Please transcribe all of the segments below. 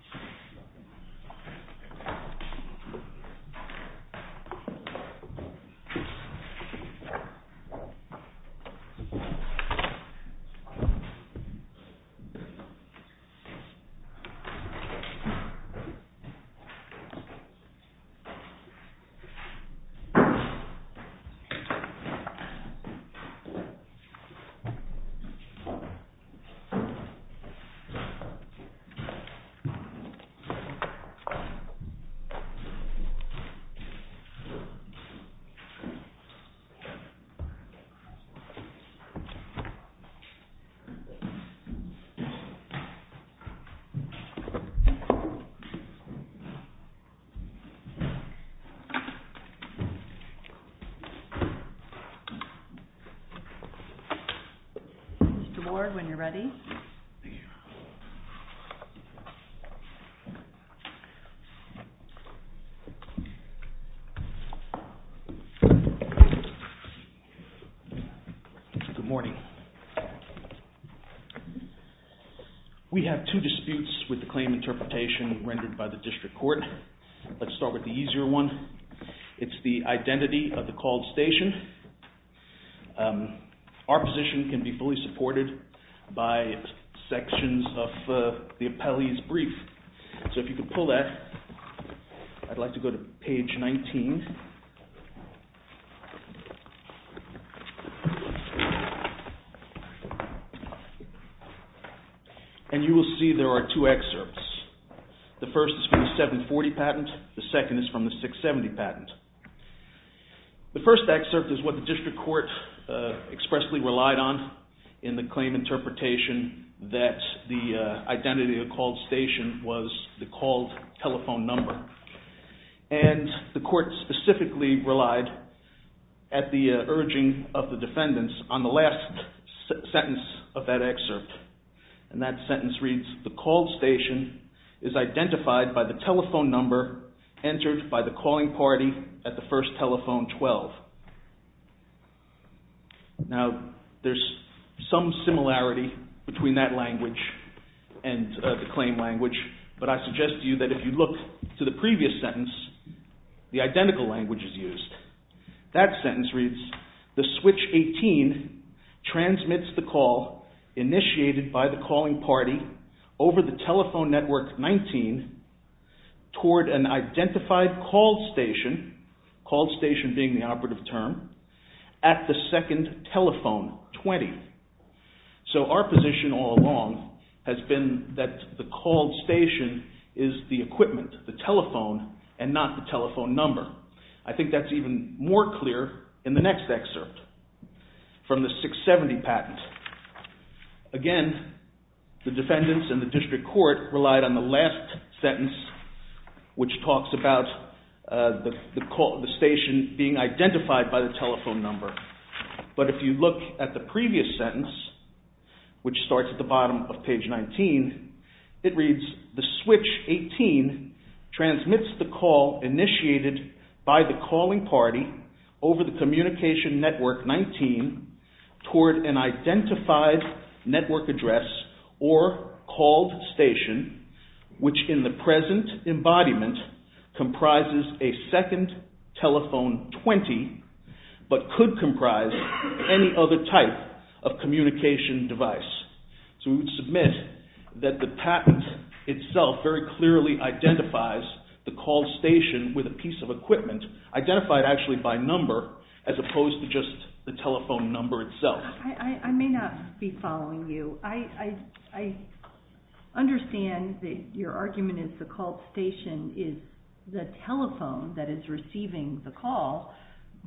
CELLCO COMMUNICATIONS v. CELLCO v. CELLCO. Good morning. We have two disputes with the claim interpretation rendered by the District Court. Let's start with the easier one. It's the identity of the called station. Our position can be fully supported by sections of the appellee's brief. So if you could pull that. I'd like to go to page 19. And you will see there are two excerpts. The first is from the 740 patent. The second is from the 670 patent. The first excerpt is what the District Court expressly relied on in the claim interpretation that the identity of the called station was the called telephone number. And the court specifically relied at the urging of the defendants on the last sentence of that excerpt. And that sentence reads, the called station is identified by the telephone number entered by the calling party at the first telephone 12. Now there's some similarity between that language and the claim language, but I suggest to you that if you look to the previous sentence, the identical language is used. That sentence reads, the switch 18 transmits the call initiated by the calling party over the telephone network 19 toward an identified called station, called station being the operative term, at the second telephone 20. So our position all along has been that the called station is the equipment, the telephone, and not the telephone number. I think that's even more clear in the next excerpt from the 670 patent. Again, the defendants and the District Court relied on the last sentence, which talks about the station being identified by the telephone number. But if you look at the previous sentence, which starts at the bottom of page 19, it reads, the switch 18 transmits the call initiated by the calling party over the communication network 19 toward an identified network address or called station, which in the present embodiment comprises a second telephone 20, but could comprise any other type of communication device. So we would submit that the patent itself very clearly identifies the called station with a piece of equipment, identified actually by number, as opposed to just the telephone number itself. I may not be following you. I understand that your argument is the called station is the telephone that is receiving the call,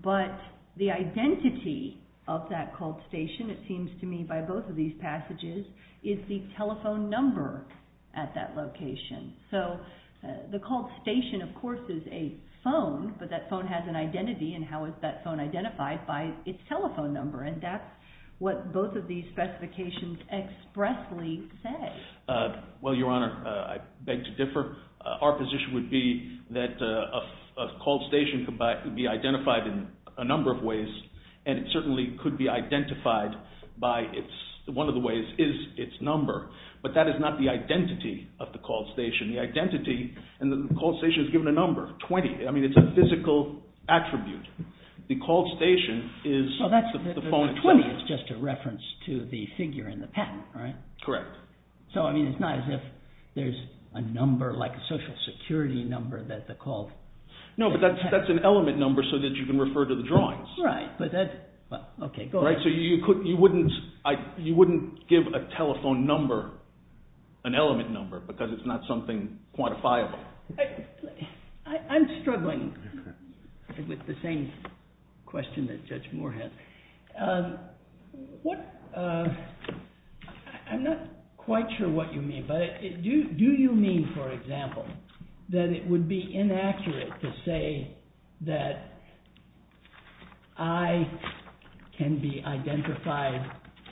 but the identity of that called station, it seems to me by both of these passages, is the telephone number at that location. So the called station of course is a phone, but that phone has an identity, and how is that phone identified by its telephone number? And that's what both of these specifications expressly say. Well, your honor, I beg to differ. Our position would be that a called station could be identified in a number of ways, and it certainly could be identified by its, one of the ways is its number. But that is not the identity of the called station. The identity, and the called station is a physical attribute. The called station is the phone 20. So that's just a reference to the figure in the patent, right? Correct. So I mean, it's not as if there's a number, like a social security number that the called... No, but that's an element number so that you can refer to the drawings. Right, but that, well, okay, go ahead. Right, so you wouldn't give a telephone number an element number, because it's not something quantifiable. Well, I'm struggling with the same question that Judge Moore has. I'm not quite sure what you mean, but do you mean, for example, that it would be inaccurate to say that I can be identified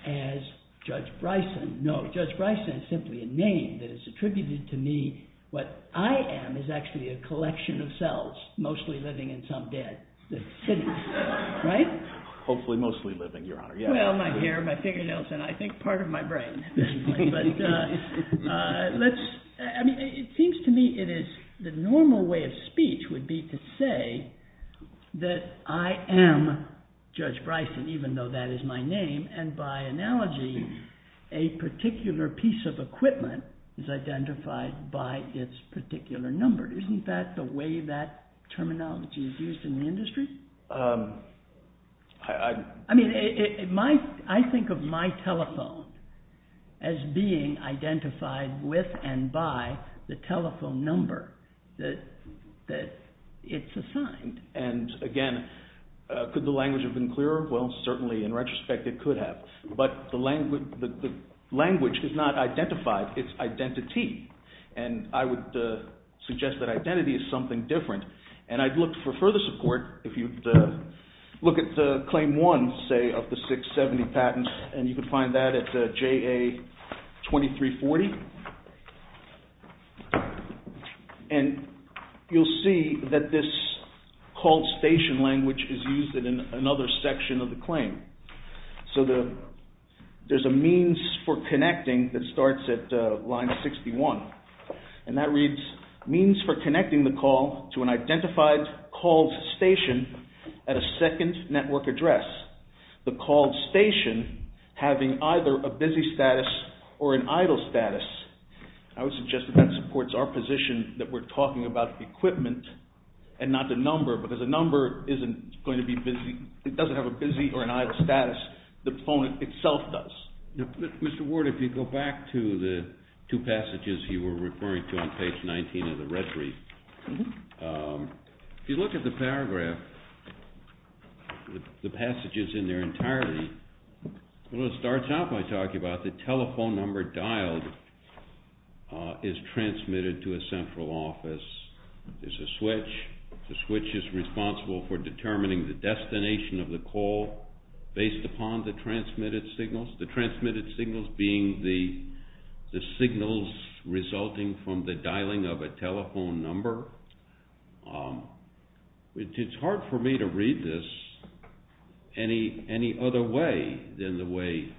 as Judge Bryson? No, Judge Bryson is simply a name that is attributed to me What I am is actually a collection of cells, mostly living in some dead cities, right? Hopefully mostly living, Your Honor, yeah. Well, my hair, my fingernails, and I think part of my brain at this point, but let's, I mean, it seems to me it is, the normal way of speech would be to say that I am Judge Bryson, even though that is my name. And by analogy, a particular piece of equipment is identified by its particular number. Isn't that the way that terminology is used in the industry? I mean, I think of my telephone as being identified with and by the telephone number that it's assigned. And again, could the language have been clearer? Well, certainly, in retrospect, it could have. But the language is not identified, it's identity. And I would suggest that identity is something different. And I'd look for further support, if you look at Claim 1, say, of the 670 patents, and you can find that at JA 2340. And you'll see that this call station language is used in another section of the claim. So there's a means for connecting that starts at line 61. And that reads, means for connecting the call to an identified call station at a second network address. The call station having either a busy status or an idle status. I would suggest that that supports our position that we're talking about equipment and not the number, because a number isn't going to be busy. It doesn't have a busy or an idle status. The phone itself does. Mr. Ward, if you go back to the two passages you were referring to on page 19 of the retrieve, if you look at the paragraph, the passages in there entirely, what it starts out by talking about the telephone number dialed is transmitted to a central office. There's a switch. The switch is responsible for determining the destination of the call based upon the transmitted signals. The transmitted signals being the signals resulting from the dialing of a telephone number. It's hard for me to read this any other way than the way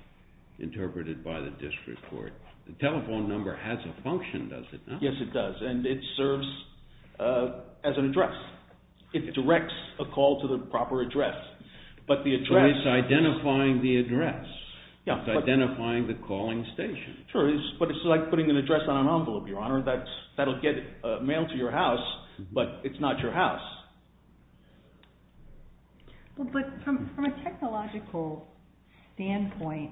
interpreted by the district court. The telephone number has a function, does it not? Yes, it does, and it serves as an address. It directs a call to the proper address, but the address... It's identifying the address. It's identifying the calling station. Sure, but it's like putting an address on an envelope, Your Honor. That'll get a mail to your house, but it's not your house. But from a technological standpoint,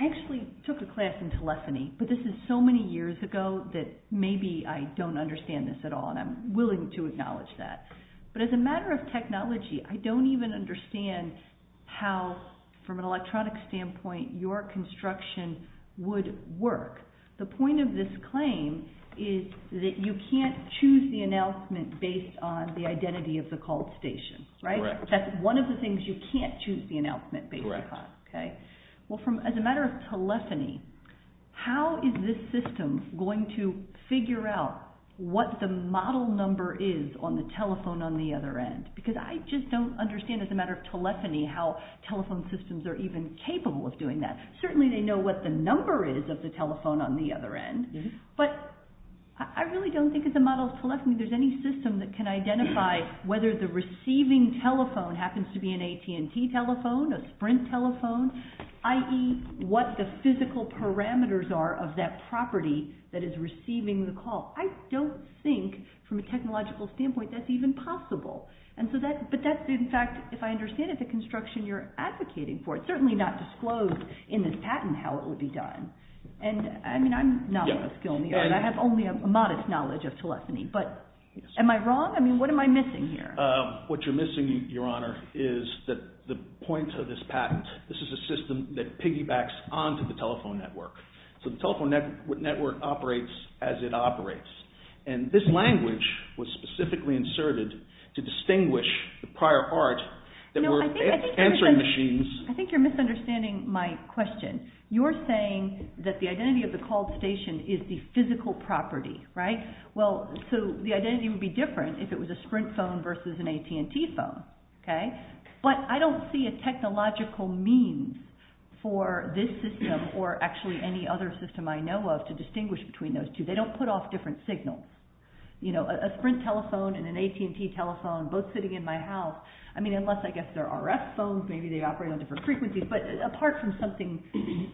I actually took a class in telephony, but this is so many years ago that maybe I don't understand this at all, and I'm willing to acknowledge that. But as a matter of technology, I don't even understand how, from an electronic standpoint, your construction would work. The point of this claim is that you can't choose the announcement based on the identity of the call station. That's one of the things you can't choose the announcement based on. As a matter of telephony, how is this system going to figure out what the model number is on the telephone on the other end? Because I just don't understand as a matter of telephony how telephone systems are even capable of doing that. Certainly they know what the number is of the telephone on the other end, but I really don't think as a model of telephony there's any system that can identify whether the receiving telephone happens to be an AT&T telephone, a Sprint telephone, i.e. what the physical parameters are of that property that is receiving the call. I don't think, from a technological standpoint, that's even possible. But that's, in fact, if I understand it, the construction you're advocating for. It's certainly not disclosed in this patent how it would be done. And I mean, I'm not a skill in the art. I have only a modest knowledge of telephony. But am I wrong? I mean, what am I missing here? What you're missing, Your Honor, is the point of this patent. This is a system that piggybacks onto the telephone network. So the telephone network operates as it operates. And this language was specifically inserted to distinguish the prior art that were answering machines. I think you're misunderstanding my question. You're saying that the identity of the call station is the physical property, right? Well, so the identity would be different if it was a Sprint phone versus an AT&T phone, okay? But I don't see a technological means for this system, or actually any other system I know of, to distinguish between those two. They don't put off different signals. You know, a Sprint telephone and an AT&T telephone both sitting in my house, I mean, unless, I guess, they're RF phones, maybe they operate on different frequencies. But apart from something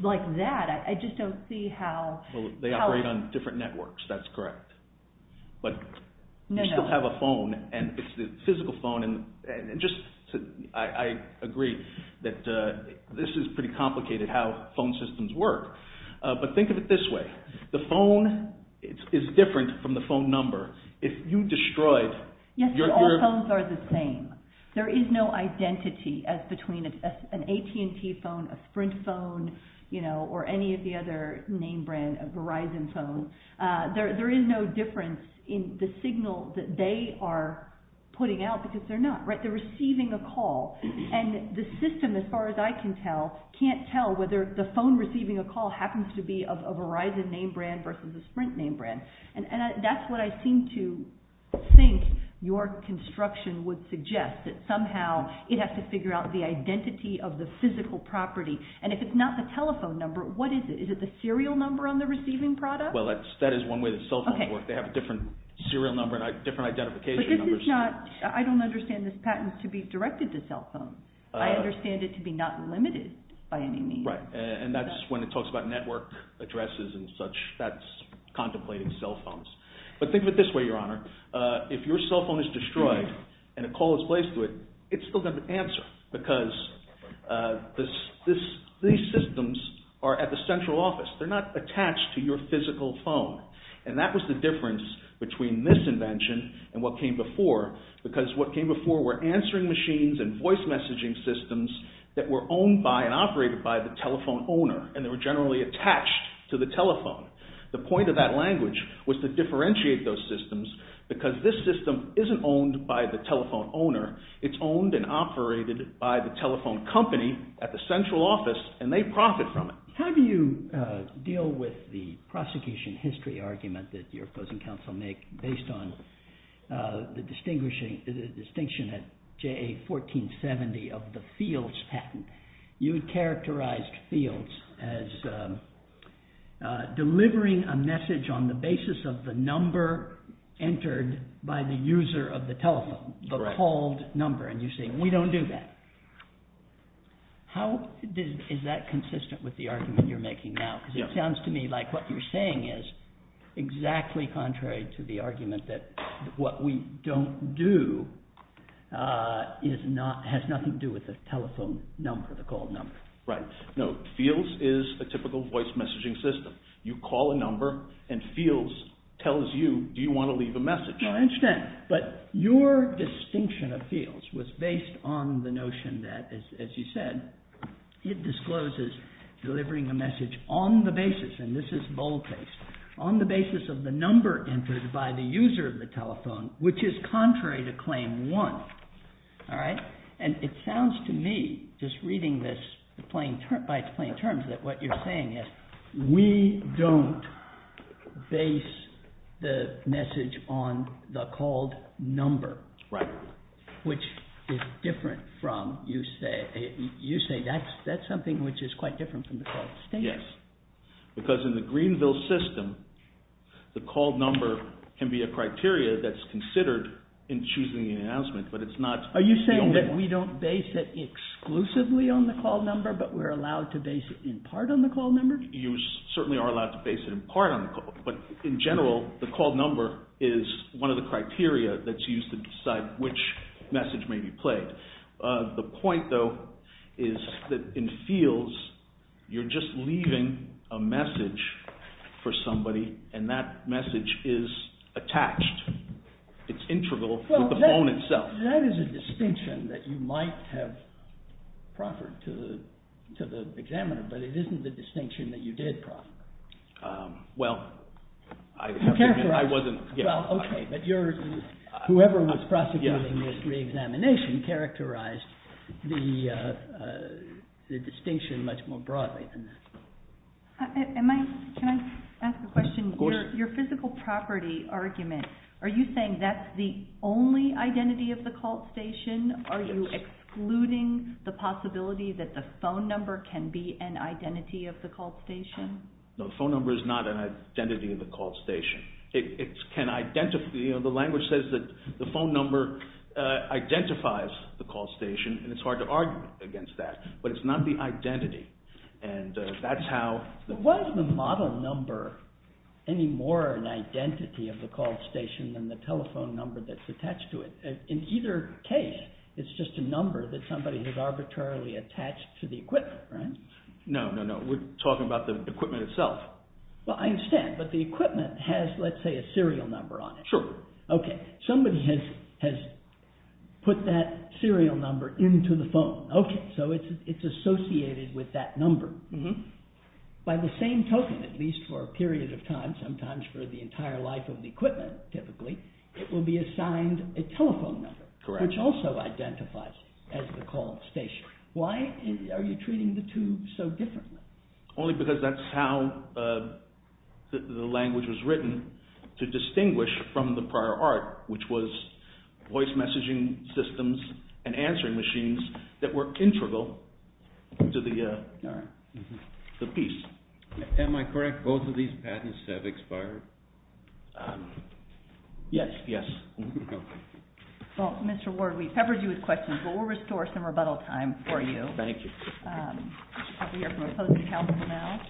like that, I just don't see how... They operate on different networks, that's correct. But you still have a phone, and it's the physical phone, and just, I agree that this is pretty complicated how phone systems work. But think of it this way. The phone is different from the phone number. If you destroy it, you're... Yes, but all phones are the same. There is no identity as between an AT&T phone, a Sprint phone, you know, or any of the other name brands of Verizon phones. There is no difference in the signal that they are putting out, because they're not, right? They're receiving a call. And the system, as far as I can tell, can't tell whether the phone receiving a call happens to be of a Verizon name brand versus a Sprint name brand. And that's what I seem to think your construction would suggest, that somehow it has to figure out the identity of the physical property. And if it's not the telephone number, what is it? Is it the serial number on the receiving product? Well, that is one way that cell phones work. They have a different serial number and different identification numbers. But this is not... I don't understand this patent to be directed to cell phones. I understand it to be not limited by any means. Right. And that's when it talks about network addresses and such, that's contemplating cell phones. But think of it this way, Your Honor. If your cell phone is destroyed and a call is placed to it, it's still going to answer, because these systems are at the central office. They're not attached to your physical phone. And that was the difference between this invention and what came before, because what came before were answering machines and voice messaging systems that were owned by and operated by the telephone owner, and they were generally attached to the telephone. The point of that language was to differentiate those systems, because this system isn't owned by the telephone owner. It's owned and operated by the telephone company at the central office, and they profit from it. How do you deal with the prosecution history argument that your opposing counsel make based on the distinction at JA 1470 of the fields patent? You characterized fields as delivering a message on the basis of the number entered by the user of the telephone, the called number, and you're saying, we don't do that. How is that consistent with the argument you're making now? Because it sounds to me like what you're saying is exactly contrary to the argument that what we don't do has nothing to do with the telephone number, the called number. Right. No, fields is a typical voice messaging system. You call a number, and fields tells you, do you want to leave a message? I understand, but your distinction of fields was based on the notion that, as you said, it discloses delivering a message on the basis, and this is boldface, on the basis of the number entered by the user of the telephone, which is contrary to claim one, all right? And it sounds to me, just reading this by its plain terms, that what you're saying is, we don't base the message on the called number, which is different from, you say, that's something which is quite different from the called status. Yes, because in the Greenville system, the called number can be a criteria that's considered in choosing an announcement, but it's not... Are you saying that we don't base it exclusively on the called number, but we're allowed to base it in part on the called number? You certainly are allowed to base it in part on the called number, but in general, the called number is one of the criteria that's used to decide which message may be played. The point, though, is that in fields, you're just leaving a message for somebody, and that message is attached. It's integral with the phone itself. That is a distinction that you might have proffered to the examiner, but it isn't the distinction that you did proffer. Well, I wasn't... Okay, but whoever was prosecuting this re-examination characterized the distinction much more broadly than that. Can I ask a question? Your physical property argument, are you saying that's the only identity of the called station? Are you excluding the possibility that the phone number can be an identity of the called station? No, the phone number is not an identity of the called station. It can identify... The language says that the phone number identifies the called station, and it's hard to argue against that, but it's not the identity, and that's how... But why is the model number any more an identity of the called station than the telephone number that's attached to it? In either case, it's just a number that somebody has arbitrarily attached to the equipment, right? No, no, no. We're talking about the equipment itself. Well, I understand, but the equipment has, let's say, a serial number on it. Sure. Okay, somebody has put that serial number into the phone. Okay, so it's associated with that number. By the same token, at least for a period of time, sometimes for the entire life of the equipment, typically, it will be assigned a telephone number, which also identifies as the called station. Why are you treating the two so differently? Only because that's how the language was written to distinguish from the prior art, which was voice messaging systems and answering machines that were integral to the piece. Am I correct? Both of these patents have expired? Yes, yes. Well, Mr. Ward, we've covered you with questions, but we'll restore some rebuttal time for you. Thank you. We should probably hear from a opposing counsel now.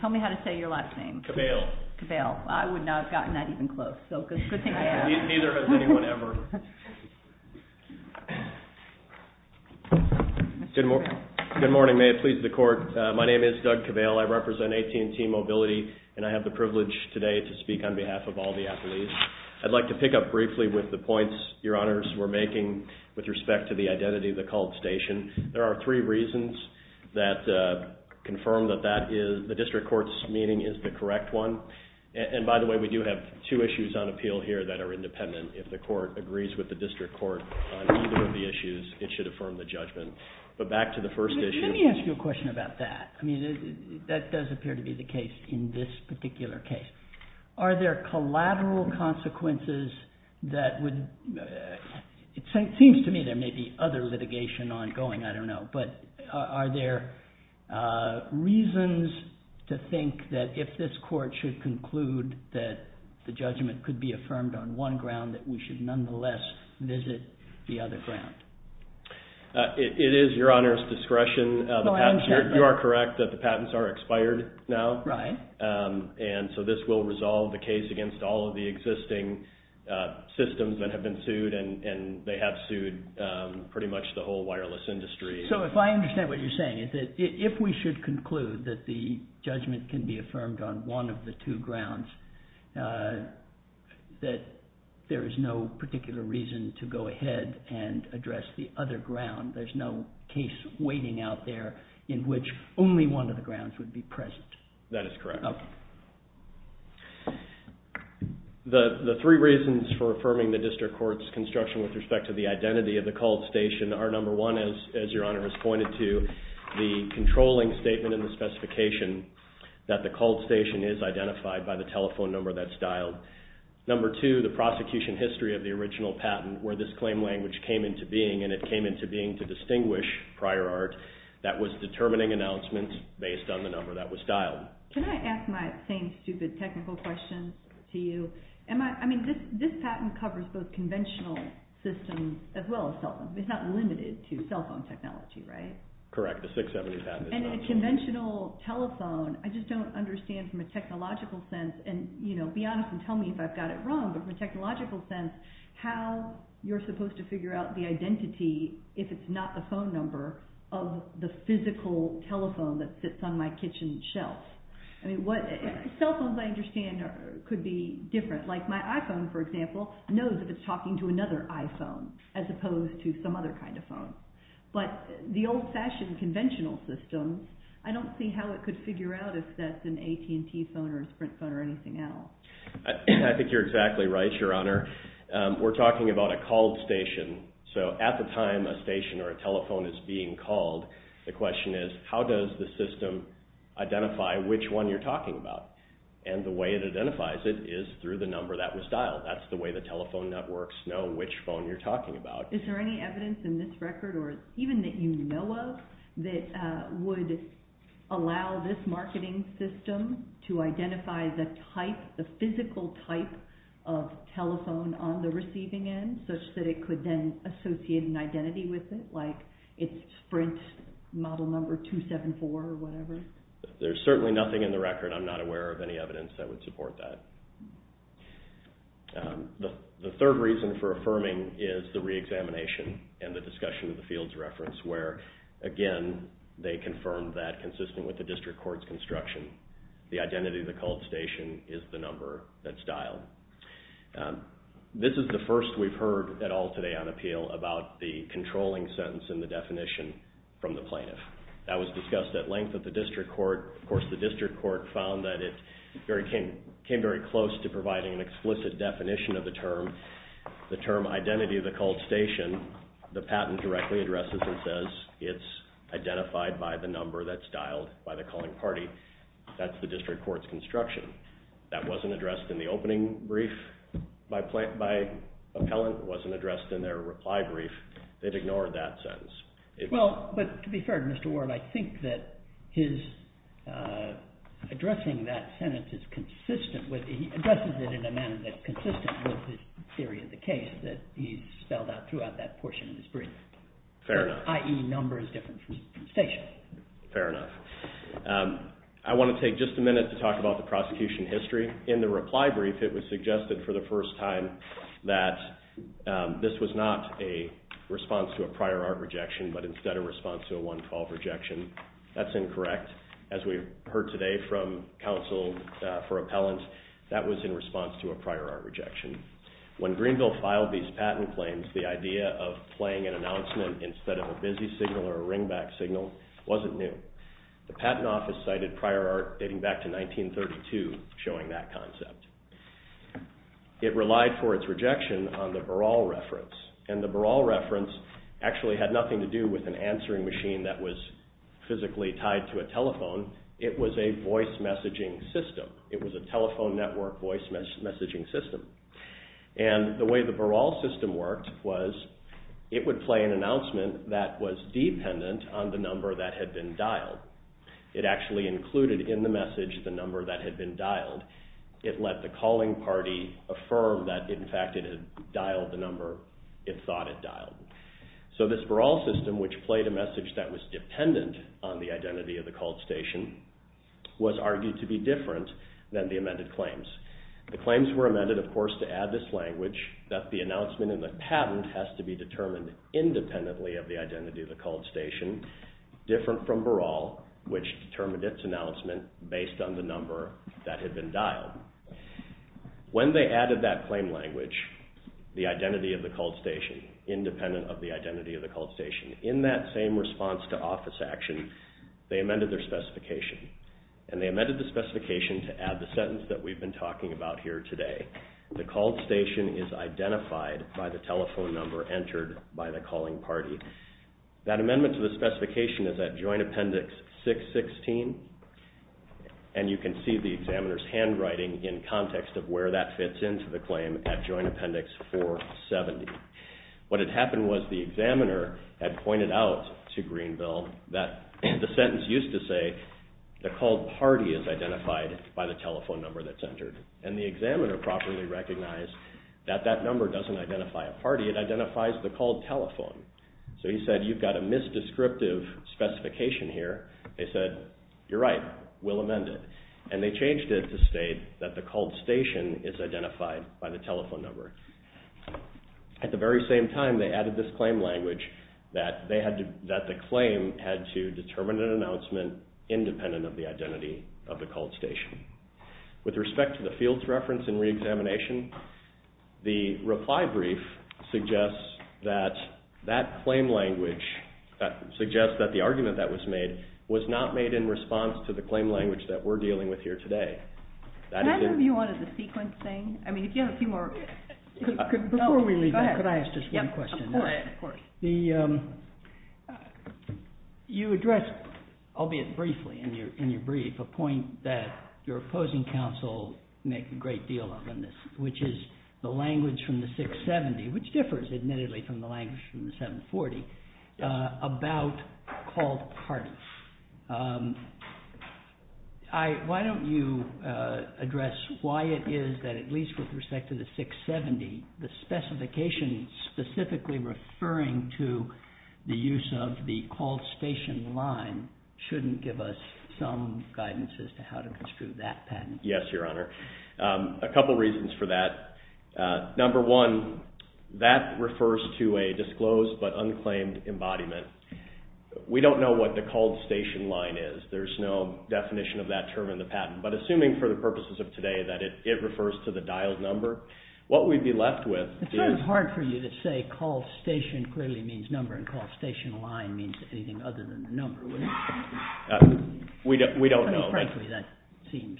Tell me how to say your last name. Cabale. Cabale. I would not have gotten that even close, so good thing you have. Neither has anyone ever. Good morning. May it please the court. My name is Doug Cabale. I represent AT&T Mobility, and I have the privilege today to speak on behalf of all the appellees. I'd like to pick up briefly with the points your honors were making with respect to the identity of the called station. There are three reasons that confirm that the district court's meaning is the correct one. And by the way, we do have two issues on appeal here that are independent if the court agrees with the district court on either of the issues, it should affirm the judgment. But back to the first issue. Let me ask you a question about that. I mean, that does appear to be the case in this particular case. Are there collateral consequences that would, it seems to me there may be other litigation ongoing, I don't know, but are there reasons to think that if this court should conclude that the judgment could be affirmed on one ground that we should nonetheless visit the other ground? It is your honors discretion. You are correct that the patents are expired now. Right. And so this will resolve the case against all of the existing systems that have been sued, and they have sued pretty much the whole wireless industry. So if I understand what you're saying, if we should conclude that the judgment can be affirmed on one of the two grounds, that there is no particular reason to go ahead and address the other ground, there's no case waiting out there in which only one of the grounds would be present. That is correct. Okay. The three reasons for affirming the district court's construction with respect to the identity of the called station are number one, as your honor has pointed to, the controlling statement in the specification that the called station is identified by the telephone number that's dialed. Number two, the prosecution history of the original patent where this claim language came into being, and it came into being to distinguish prior art that was determining announcements based on the number that was dialed. Can I ask my same stupid technical question to you? This patent covers both conventional systems as well as cell phones. It's not limited to cell phone technology, right? Correct. The 670 patent is not. And in a conventional telephone, I just don't understand from a technological sense, and be honest and tell me if I've got it wrong, but from a technological sense, how you're supposed to figure out the identity, if it's not the phone number, of the physical telephone that sits on my kitchen shelf. Cell phones, I understand, could be different. Like my iPhone, for example, knows that it's talking to another iPhone as opposed to some other kind of phone. But the old-fashioned conventional system, I don't see how it could figure out if that's an AT&T phone or a Sprint phone or anything else. I think you're exactly right, Your Honor. We're talking about a called station. So at the time a station or a telephone is being called, the question is, how does the system identify which one you're talking about? And the way it identifies it is through the number that was dialed. That's the way the telephone networks know which phone you're talking about. Is there any evidence in this record, or even that you know of, that would allow this marketing system to identify the type, the physical type of telephone on the receiving end, such that it could then associate an identity with it, like it's Sprint model number 274 or whatever? There's certainly nothing in the record. I'm not aware of any evidence that would support that. The third reason for affirming is the re-examination and the discussion of the fields reference, where, again, they confirmed that, consisting with the district court's construction, the identity of the called station is the number that's dialed. This is the first we've heard at all today on appeal about the controlling sentence and the definition from the plaintiff. That was discussed at length at the district court. Of course, the district court found that it came very close to providing an explicit definition of the term, the term identity of the called station. The patent directly addresses and says it's identified by the number that's dialed by the calling party. That's the district court's construction. That wasn't addressed in the opening brief by appellant. It wasn't addressed in their reply brief. They'd ignored that sentence. Well, but to be fair to Mr. Ward, I think that his addressing that sentence is consistent with, he addresses it in a manner that's consistent with the theory of the case that he's spelled out throughout that portion of his brief. Fair enough. I.e., number is different from station. Fair enough. I want to take just a minute to talk about the prosecution history. In the reply brief, it was suggested for the first time that this was not a response to a prior art rejection, but instead a response to a 112 rejection. That's incorrect. As we heard today from counsel for appellant, that was in response to a prior art rejection. When Greenville filed these patent claims, the idea of playing an announcement instead of a busy signal or a ringback signal wasn't new. The patent office cited prior art dating back to 1932 showing that concept. It relied for its rejection on the Baral reference, and the Baral reference actually had nothing to do with an answering machine that was physically tied to a telephone. It was a voice messaging system. It was a telephone network voice messaging system. And the way the Baral system worked was it would play an announcement that was dependent on the number that had been dialed. It actually included in the message the number that had been dialed. It let the calling party affirm that, in fact, it had dialed the number it thought it dialed. So this Baral system, which played a message that was dependent on the identity of the called station, was argued to be different than the amended claims. The claims were amended, of course, to add this language that the announcement in the patent has to be determined independently of the identity of the called station, different from Baral, which determined its announcement based on the number that had been dialed. When they added that claim language, the identity of the called station, independent of the identity of the called station, in that same response to office action, they amended their specification. And they amended the specification to add the sentence that we've been talking about here today. The called station is identified by the telephone number entered by the calling party. That amendment to the specification is at Joint Appendix 616, and you can see the examiner's handwriting in context of where that fits into the claim at Joint Appendix 470. What had happened was the examiner had pointed out to Greenville that the sentence used to say, the called party is identified by the telephone number that's entered. And the examiner properly recognized that that number doesn't identify a party, it identifies the called telephone. So he said, you've got a misdescriptive specification here. They said, you're right, we'll amend it. And they changed it to state that the called station is identified by the telephone number. At the very same time, they added this claim language that the claim had to determine an announcement independent of the identity of the called station. With respect to the fields reference and reexamination, the reply brief suggests that that claim language, suggests that the argument that was made was not made in response to the claim language that we're dealing with here today. Can I have a view on the sequence thing? I mean, if you have a few more... Before we leave that, could I ask just one question? Of course. You addressed, albeit briefly in your brief, a point that your opposing counsel make a great deal of in this, which is the language from the 670, which differs, admittedly, from the language from the 740, about called parties. Why don't you address why it is that, at least with respect to the 670, the specification specifically referring to the use of the called station line shouldn't give us some guidance as to how to construe that patent. Yes, Your Honor. A couple reasons for that. Number one, that refers to a disclosed but unclaimed embodiment. We don't know what the called station line is. There's no definition of that term in the patent. But assuming for the purposes of today that it refers to the dialed number, what we'd be left with is... It's kind of hard for you to say called station clearly means number and called station line means anything other than the number, wouldn't it? We don't know. I mean, frankly, that seems...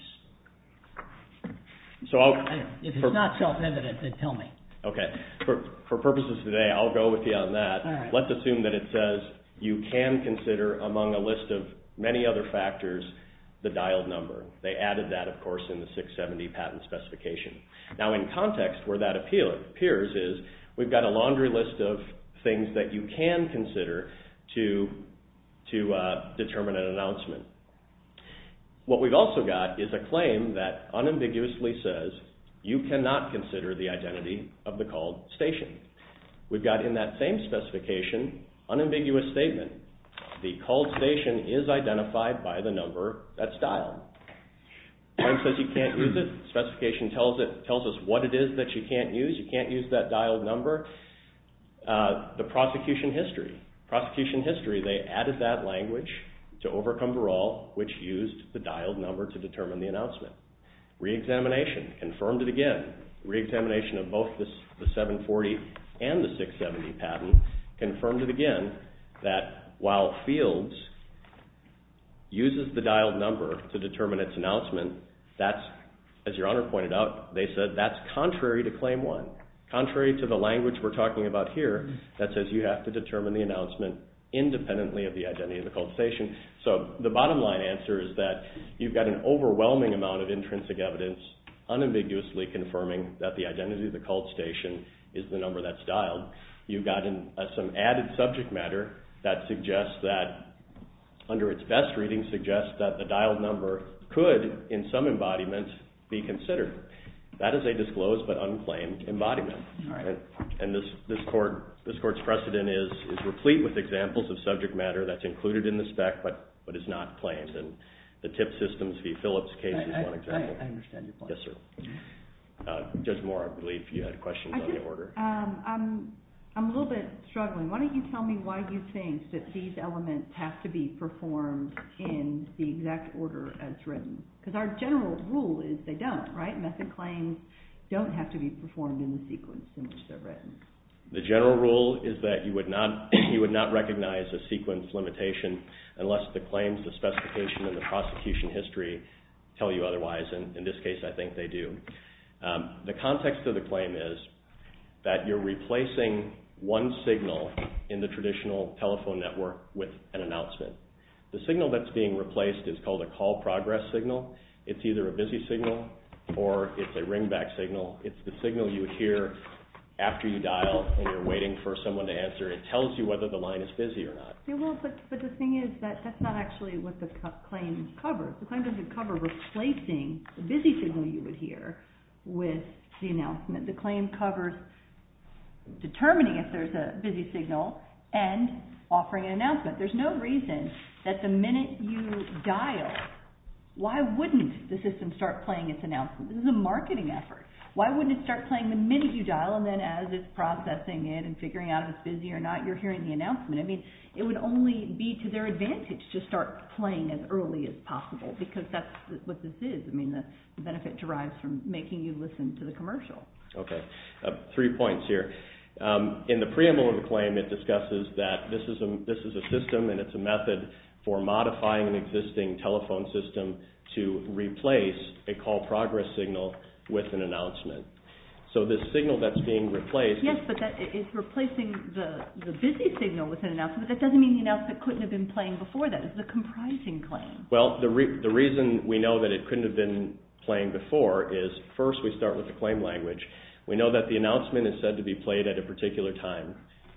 If it's not self-evident, then tell me. Okay. For purposes today, I'll go with you on that. Let's assume that it says you can consider among a list of many other factors the dialed number. They added that, of course, in the 670 patent specification. Now, in context where that appears is we've got a laundry list of things that you can consider to determine an announcement. What we've also got is a claim that unambiguously says you cannot consider the identity of the called station. We've got in that same specification unambiguous statement. The called station is identified by the number that's dialed. Time says you can't use it. Specification tells us what it is that you can't use. You can't use that dialed number. The prosecution history. Prosecution history, they added that language to overcome Verall, which used the dialed number to determine the announcement. Re-examination confirmed it again. Re-examination of both the 740 and the 670 patent confirmed it again that while fields uses the dialed number to determine its announcement, that's, as your Honor pointed out, they said that's contrary to Claim 1. Contrary to the language we're talking about here that says you have to determine the announcement independently of the identity of the called station. So the bottom line answer is that you've got an overwhelming amount of intrinsic evidence unambiguously confirming that the identity of the called station is the number that's dialed. You've got some added subject matter that suggests that under its best reading suggests that the dialed number could in some embodiment be considered. That is a disclosed but unclaimed embodiment. And this Court's precedent is replete with examples of subject matter that's included in the spec but is not claimed. And the tip systems v. Phillips case is one example. I understand your point. Yes, sir. Judge Moore, I believe you had questions on the order. I'm a little bit struggling. Why don't you tell me why you think that these elements have to be performed in the exact order as written? Because our general rule is they don't, right? They don't have to be performed in the sequence in which they're written. The general rule is that you would not recognize a sequence limitation unless the claims, the specification, and the prosecution history tell you otherwise. And in this case, I think they do. The context of the claim is that you're replacing one signal in the traditional telephone network with an announcement. The signal that's being replaced is called a call progress signal. It's either a busy signal or it's a ringback signal. It's the signal you would hear after you dial and you're waiting for someone to answer. It tells you whether the line is busy or not. But the thing is that that's not actually what the claim covers. The claim doesn't cover replacing the busy signal you would hear with the announcement. The claim covers determining if there's a busy signal and offering an announcement. There's no reason that the minute you dial, why wouldn't the system start playing its announcement? This is a marketing effort. Why wouldn't it start playing the minute you dial and then as it's processing it and figuring out if it's busy or not, you're hearing the announcement. I mean, it would only be to their advantage to start playing as early as possible because that's what this is. I mean, the benefit derives from making you listen to the commercial. Okay, three points here. In the preamble of the claim, it discusses that this is a system and it's a method for modifying an existing telephone system to replace a call progress signal with an announcement. So this signal that's being replaced... Yes, but that is replacing the busy signal with an announcement. That doesn't mean the announcement couldn't have been playing before that. It's a comprising claim. Well, the reason we know that it couldn't have been playing before is first we start with the claim language. We know that the announcement is said to be played at a particular time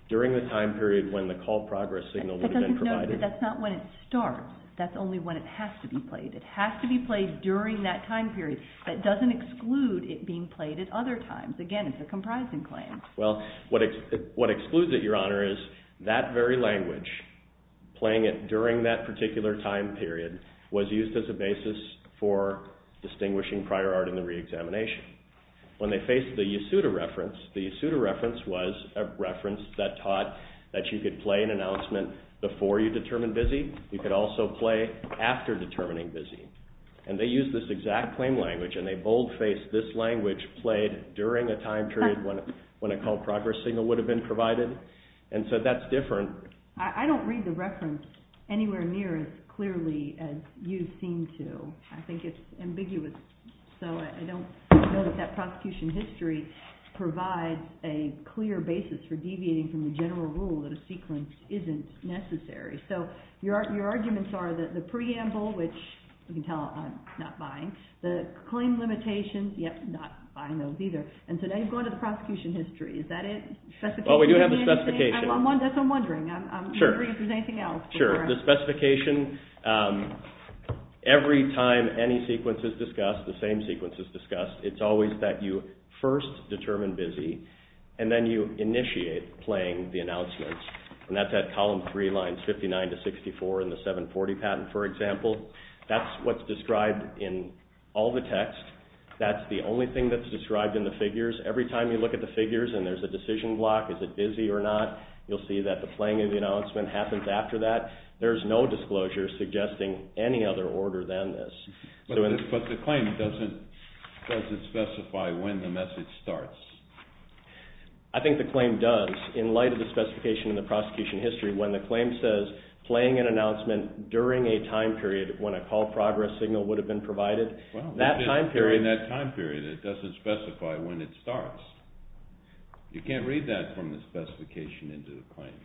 during the time period when the call progress signal would have been provided. But that's not when it starts. That's only when it has to be played. It has to be played during that time period. That doesn't exclude it being played at other times. Again, it's a comprising claim. Well, what excludes it, Your Honor, is that very language, playing it during that particular time period, was used as a basis for distinguishing prior art in the reexamination. When they faced the Yasuda reference, the Yasuda reference was a reference that taught that you could play an announcement before you determine busy. You could also play after determining busy. And they used this exact claim language and they boldfaced this language played during a time period when a call progress signal would have been provided. And so that's different. I don't read the reference anywhere near as clearly as you seem to. I think it's ambiguous. So I don't know that that prosecution history provides a clear basis for deviating from the general rule that a sequence isn't necessary. So your arguments are that the preamble, which you can tell I'm not buying, the claim limitations, yep, not buying those either. And so now you've gone to the prosecution history. Is that it? Well, we do have the specification. That's what I'm wondering. I'm not sure if there's anything else. Sure. The specification, every time any sequence is discussed, the same sequence is discussed, it's always that you first determine busy and then you initiate playing the announcements. And that's at column three lines 59 to 64 in the 740 patent, for example. That's what's described in all the text. That's the only thing that's described in the figures. Every time you look at the figures and there's a decision block, is it busy or not, you'll see that the playing of the announcement happens after that. There's no disclosure suggesting any other order than this. But the claim doesn't specify when the message starts. I think the claim does, in light of the specification in the prosecution history, when the claim says, playing an announcement during a time period when a call progress signal would have been provided, that time period... Well, it's just during that time period. It doesn't specify when it starts. You can't read that from the specification into the claim.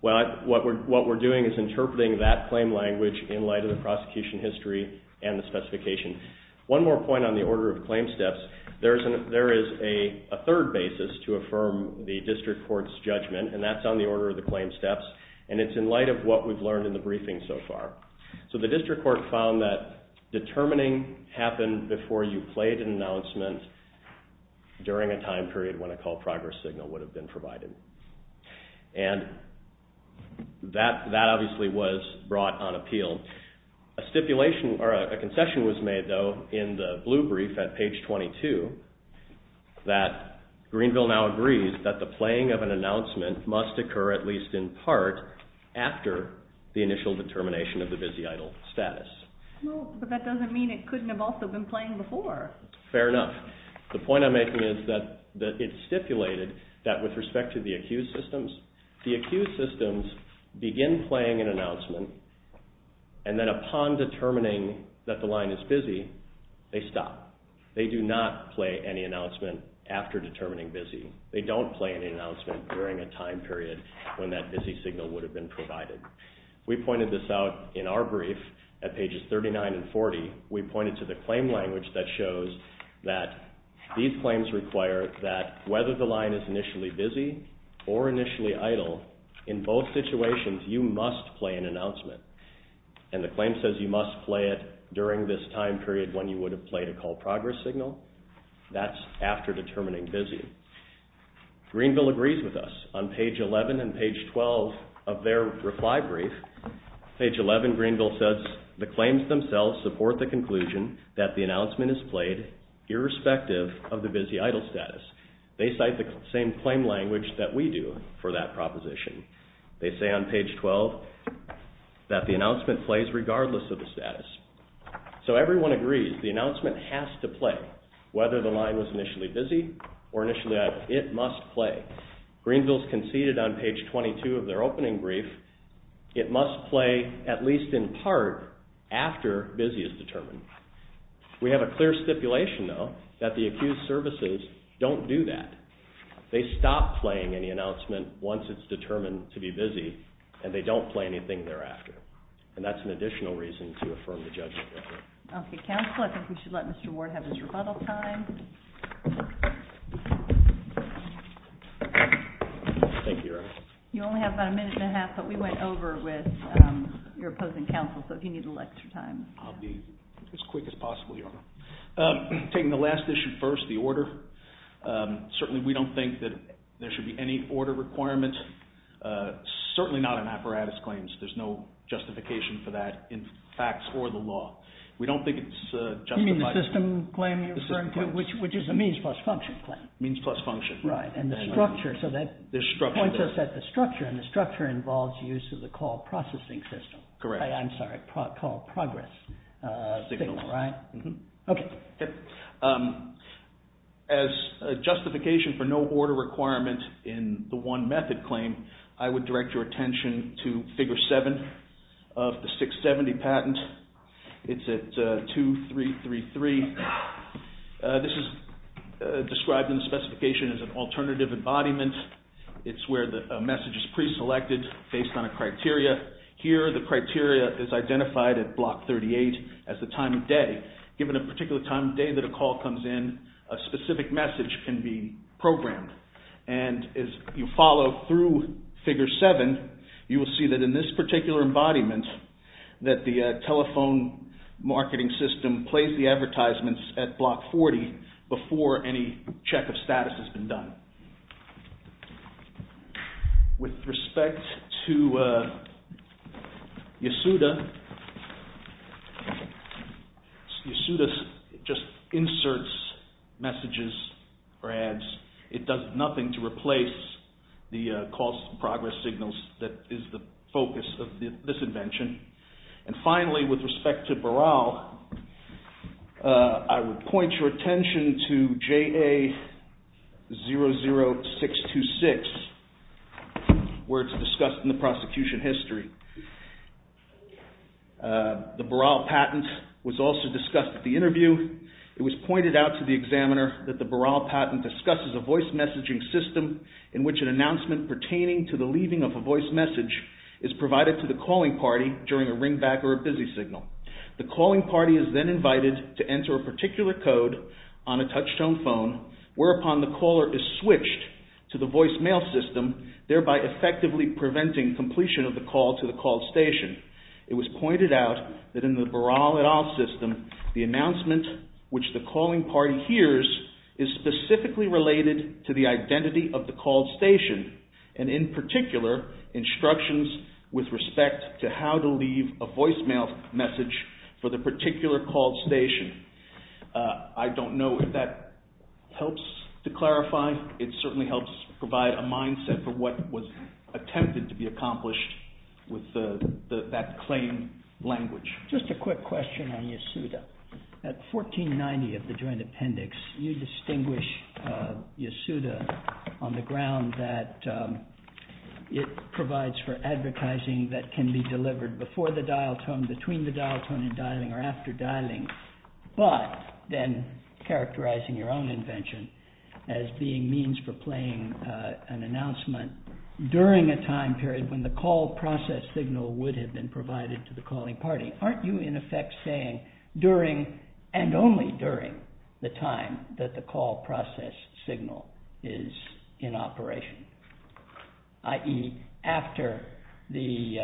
Well, what we're doing is interpreting that claim language in light of the prosecution history and the specification. One more point on the order of claim steps. There is a third basis to affirm the district court's judgment, and that's on the order of the claim steps, and it's in light of what we've learned in the briefing so far. So the district court found that determining happened before you played an announcement during a time period when a call progress signal would have been provided. And that obviously was brought on appeal. A stipulation or a concession was made, though, in the blue brief at page 22, that Greenville now agrees that the playing of an announcement must occur at least in part after the initial determination of the busy idol status. Well, but that doesn't mean it couldn't have also been playing before. Fair enough. The point I'm making is that it's stipulated the accused systems begin playing an announcement, and then upon determining that the line is busy, they stop. They do not play any announcement after determining busy. They don't play any announcement during a time period when that busy signal would have been provided. We pointed this out in our brief at pages 39 and 40. We pointed to the claim language that shows that these claims require that whether the line is initially busy or initially idle, in both situations you must play an announcement. And the claim says you must play it during this time period when you would have played a call progress signal. That's after determining busy. Greenville agrees with us. On page 11 and page 12 of their reply brief, page 11 Greenville says, the claims themselves support the conclusion that the announcement is played irrespective of the busy idol status. They cite the same claim language that we do for that proposition. They say on page 12 that the announcement plays regardless of the status. So everyone agrees the announcement has to play, whether the line was initially busy or initially idle. It must play. Greenville's conceded on page 22 of their opening brief, it must play at least in part after busy is determined. We have a clear stipulation, though, that the accused services don't do that. They stop playing any announcement once it's determined to be busy, and they don't play anything thereafter. And that's an additional reason to affirm the judgment. Okay, counsel, I think we should let Mr. Ward have his rebuttal time. Thank you, Your Honor. You only have about a minute and a half, but we went over with your opposing counsel, so if you need a little extra time. I'll be as quick as possible, Your Honor. Taking the last issue first, the order, certainly we don't think that there should be any order requirements, certainly not in apparatus claims. There's no justification for that in facts or the law. We don't think it's justified. You mean the system claim you're referring to, which is a means plus function claim. Means plus function, right. And the structure, so that points us at the structure, and the structure involves use of the call processing system. Correct. I'm sorry, call progress. Signal, right. Okay. As a justification for no order requirement in the one method claim, I would direct your attention to Figure 7 of the 670 patent. It's at 2333. This is described in the specification as an alternative embodiment. It's where a message is preselected based on a criteria. Here the criteria is identified at Block 38 as the time of day. Given a particular time of day that a call comes in, a specific message can be programmed. And as you follow through Figure 7, you will see that in this particular embodiment that the telephone marketing system plays the advertisements at Block 40 before any check of status has been done. With respect to Yasuda, Yasuda just inserts messages or ads. It does nothing to replace the calls to progress signals that is the focus of this invention. And finally, with respect to Baral, I would point your attention to JA00626, where it's discussed in the prosecution history. The Baral patent was also discussed at the interview. It was pointed out to the examiner that the Baral patent discusses a voice messaging system in which an announcement pertaining to the leaving of a voice message is provided to the calling party during a ringback or a busy signal. The calling party is then invited to enter a particular code on a touchtone phone whereupon the caller is switched to the voicemail system, thereby effectively preventing completion of the call to the call station. It was pointed out that in the Baral et al. system, the announcement which the calling party hears is specifically related to the identity of the call station, and in particular, instructions with respect to how to leave a voicemail message for the particular call station. I don't know if that helps to clarify. It certainly helps provide a mindset for what was attempted to be accomplished with that claim language. Just a quick question on Yasuda. At 1490 of the Joint Appendix, you distinguish Yasuda on the ground that it provides for advertising that can be delivered before the dial tone, between the dial tone and dialing, or after dialing, but then characterizing your own invention as being means for playing an announcement during a time period when the call process signal would have been provided to the calling party. Aren't you in effect saying during, and only during, the time that the call process signal is in operation? I.e., after the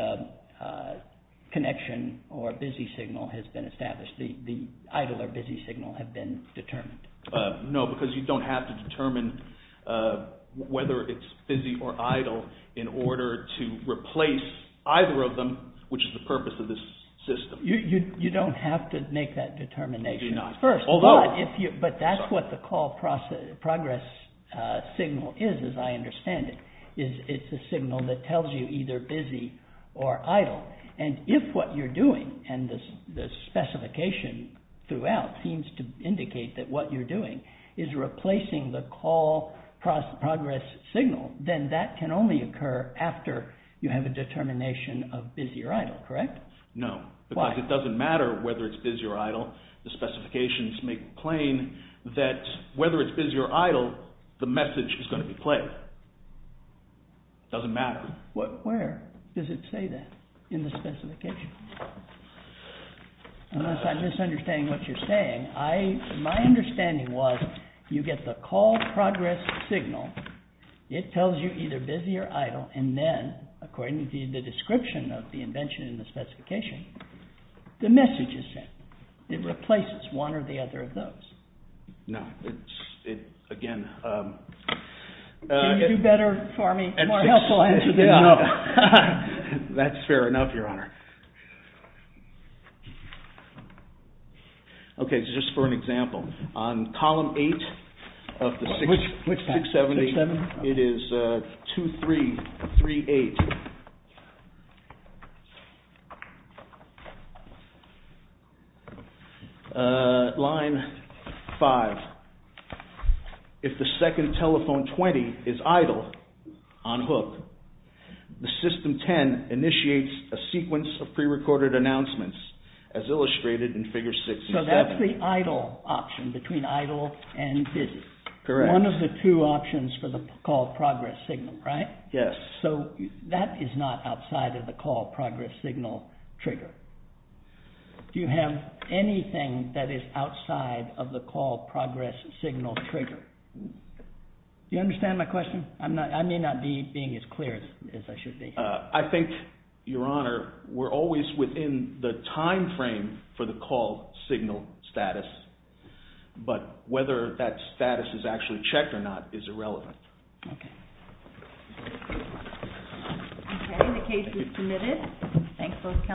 connection or busy signal has been established, the idle or busy signal has been determined? No, because you don't have to determine whether it's busy or idle in order to replace either of them, which is the purpose of this system. You don't have to make that determination. You do not. But that's what the call progress signal is, as I understand it. It's a signal that tells you either busy or idle. And if what you're doing, and the specification throughout seems to indicate that what you're doing is replacing the call progress signal, then that can only occur after you have a determination of busy or idle, correct? No, because it doesn't matter whether it's busy or idle. The specifications make it plain that whether it's busy or idle, the message is going to be played. It doesn't matter. Where does it say that in the specification? Unless I'm misunderstanding what you're saying, my understanding was you get the call progress signal. It tells you either busy or idle, and then, according to the description of the invention in the specification, the message is sent. It replaces one or the other of those. No. Again. Can you do better for me? A more helpful answer than no. That's fair enough, Your Honor. Okay, so just for an example, on column 8 of the 670, it is 2338. Line 5, if the second telephone 20 is idle on hook, the system 10 initiates a sequence of prerecorded announcements as illustrated in figure 6 and 7. So that's the idle option between idle and busy. Correct. One of the two options for the call progress signal, right? Yes. So that is not outside of the call progress signal trigger. Do you have anything that is outside of the call progress signal trigger? Do you understand my question? I may not be being as clear as I should be. I think, Your Honor, we're always within the time frame for the call signal status, but whether that status is actually checked or not is irrelevant. Okay. Okay, the case is submitted. Thanks for coming.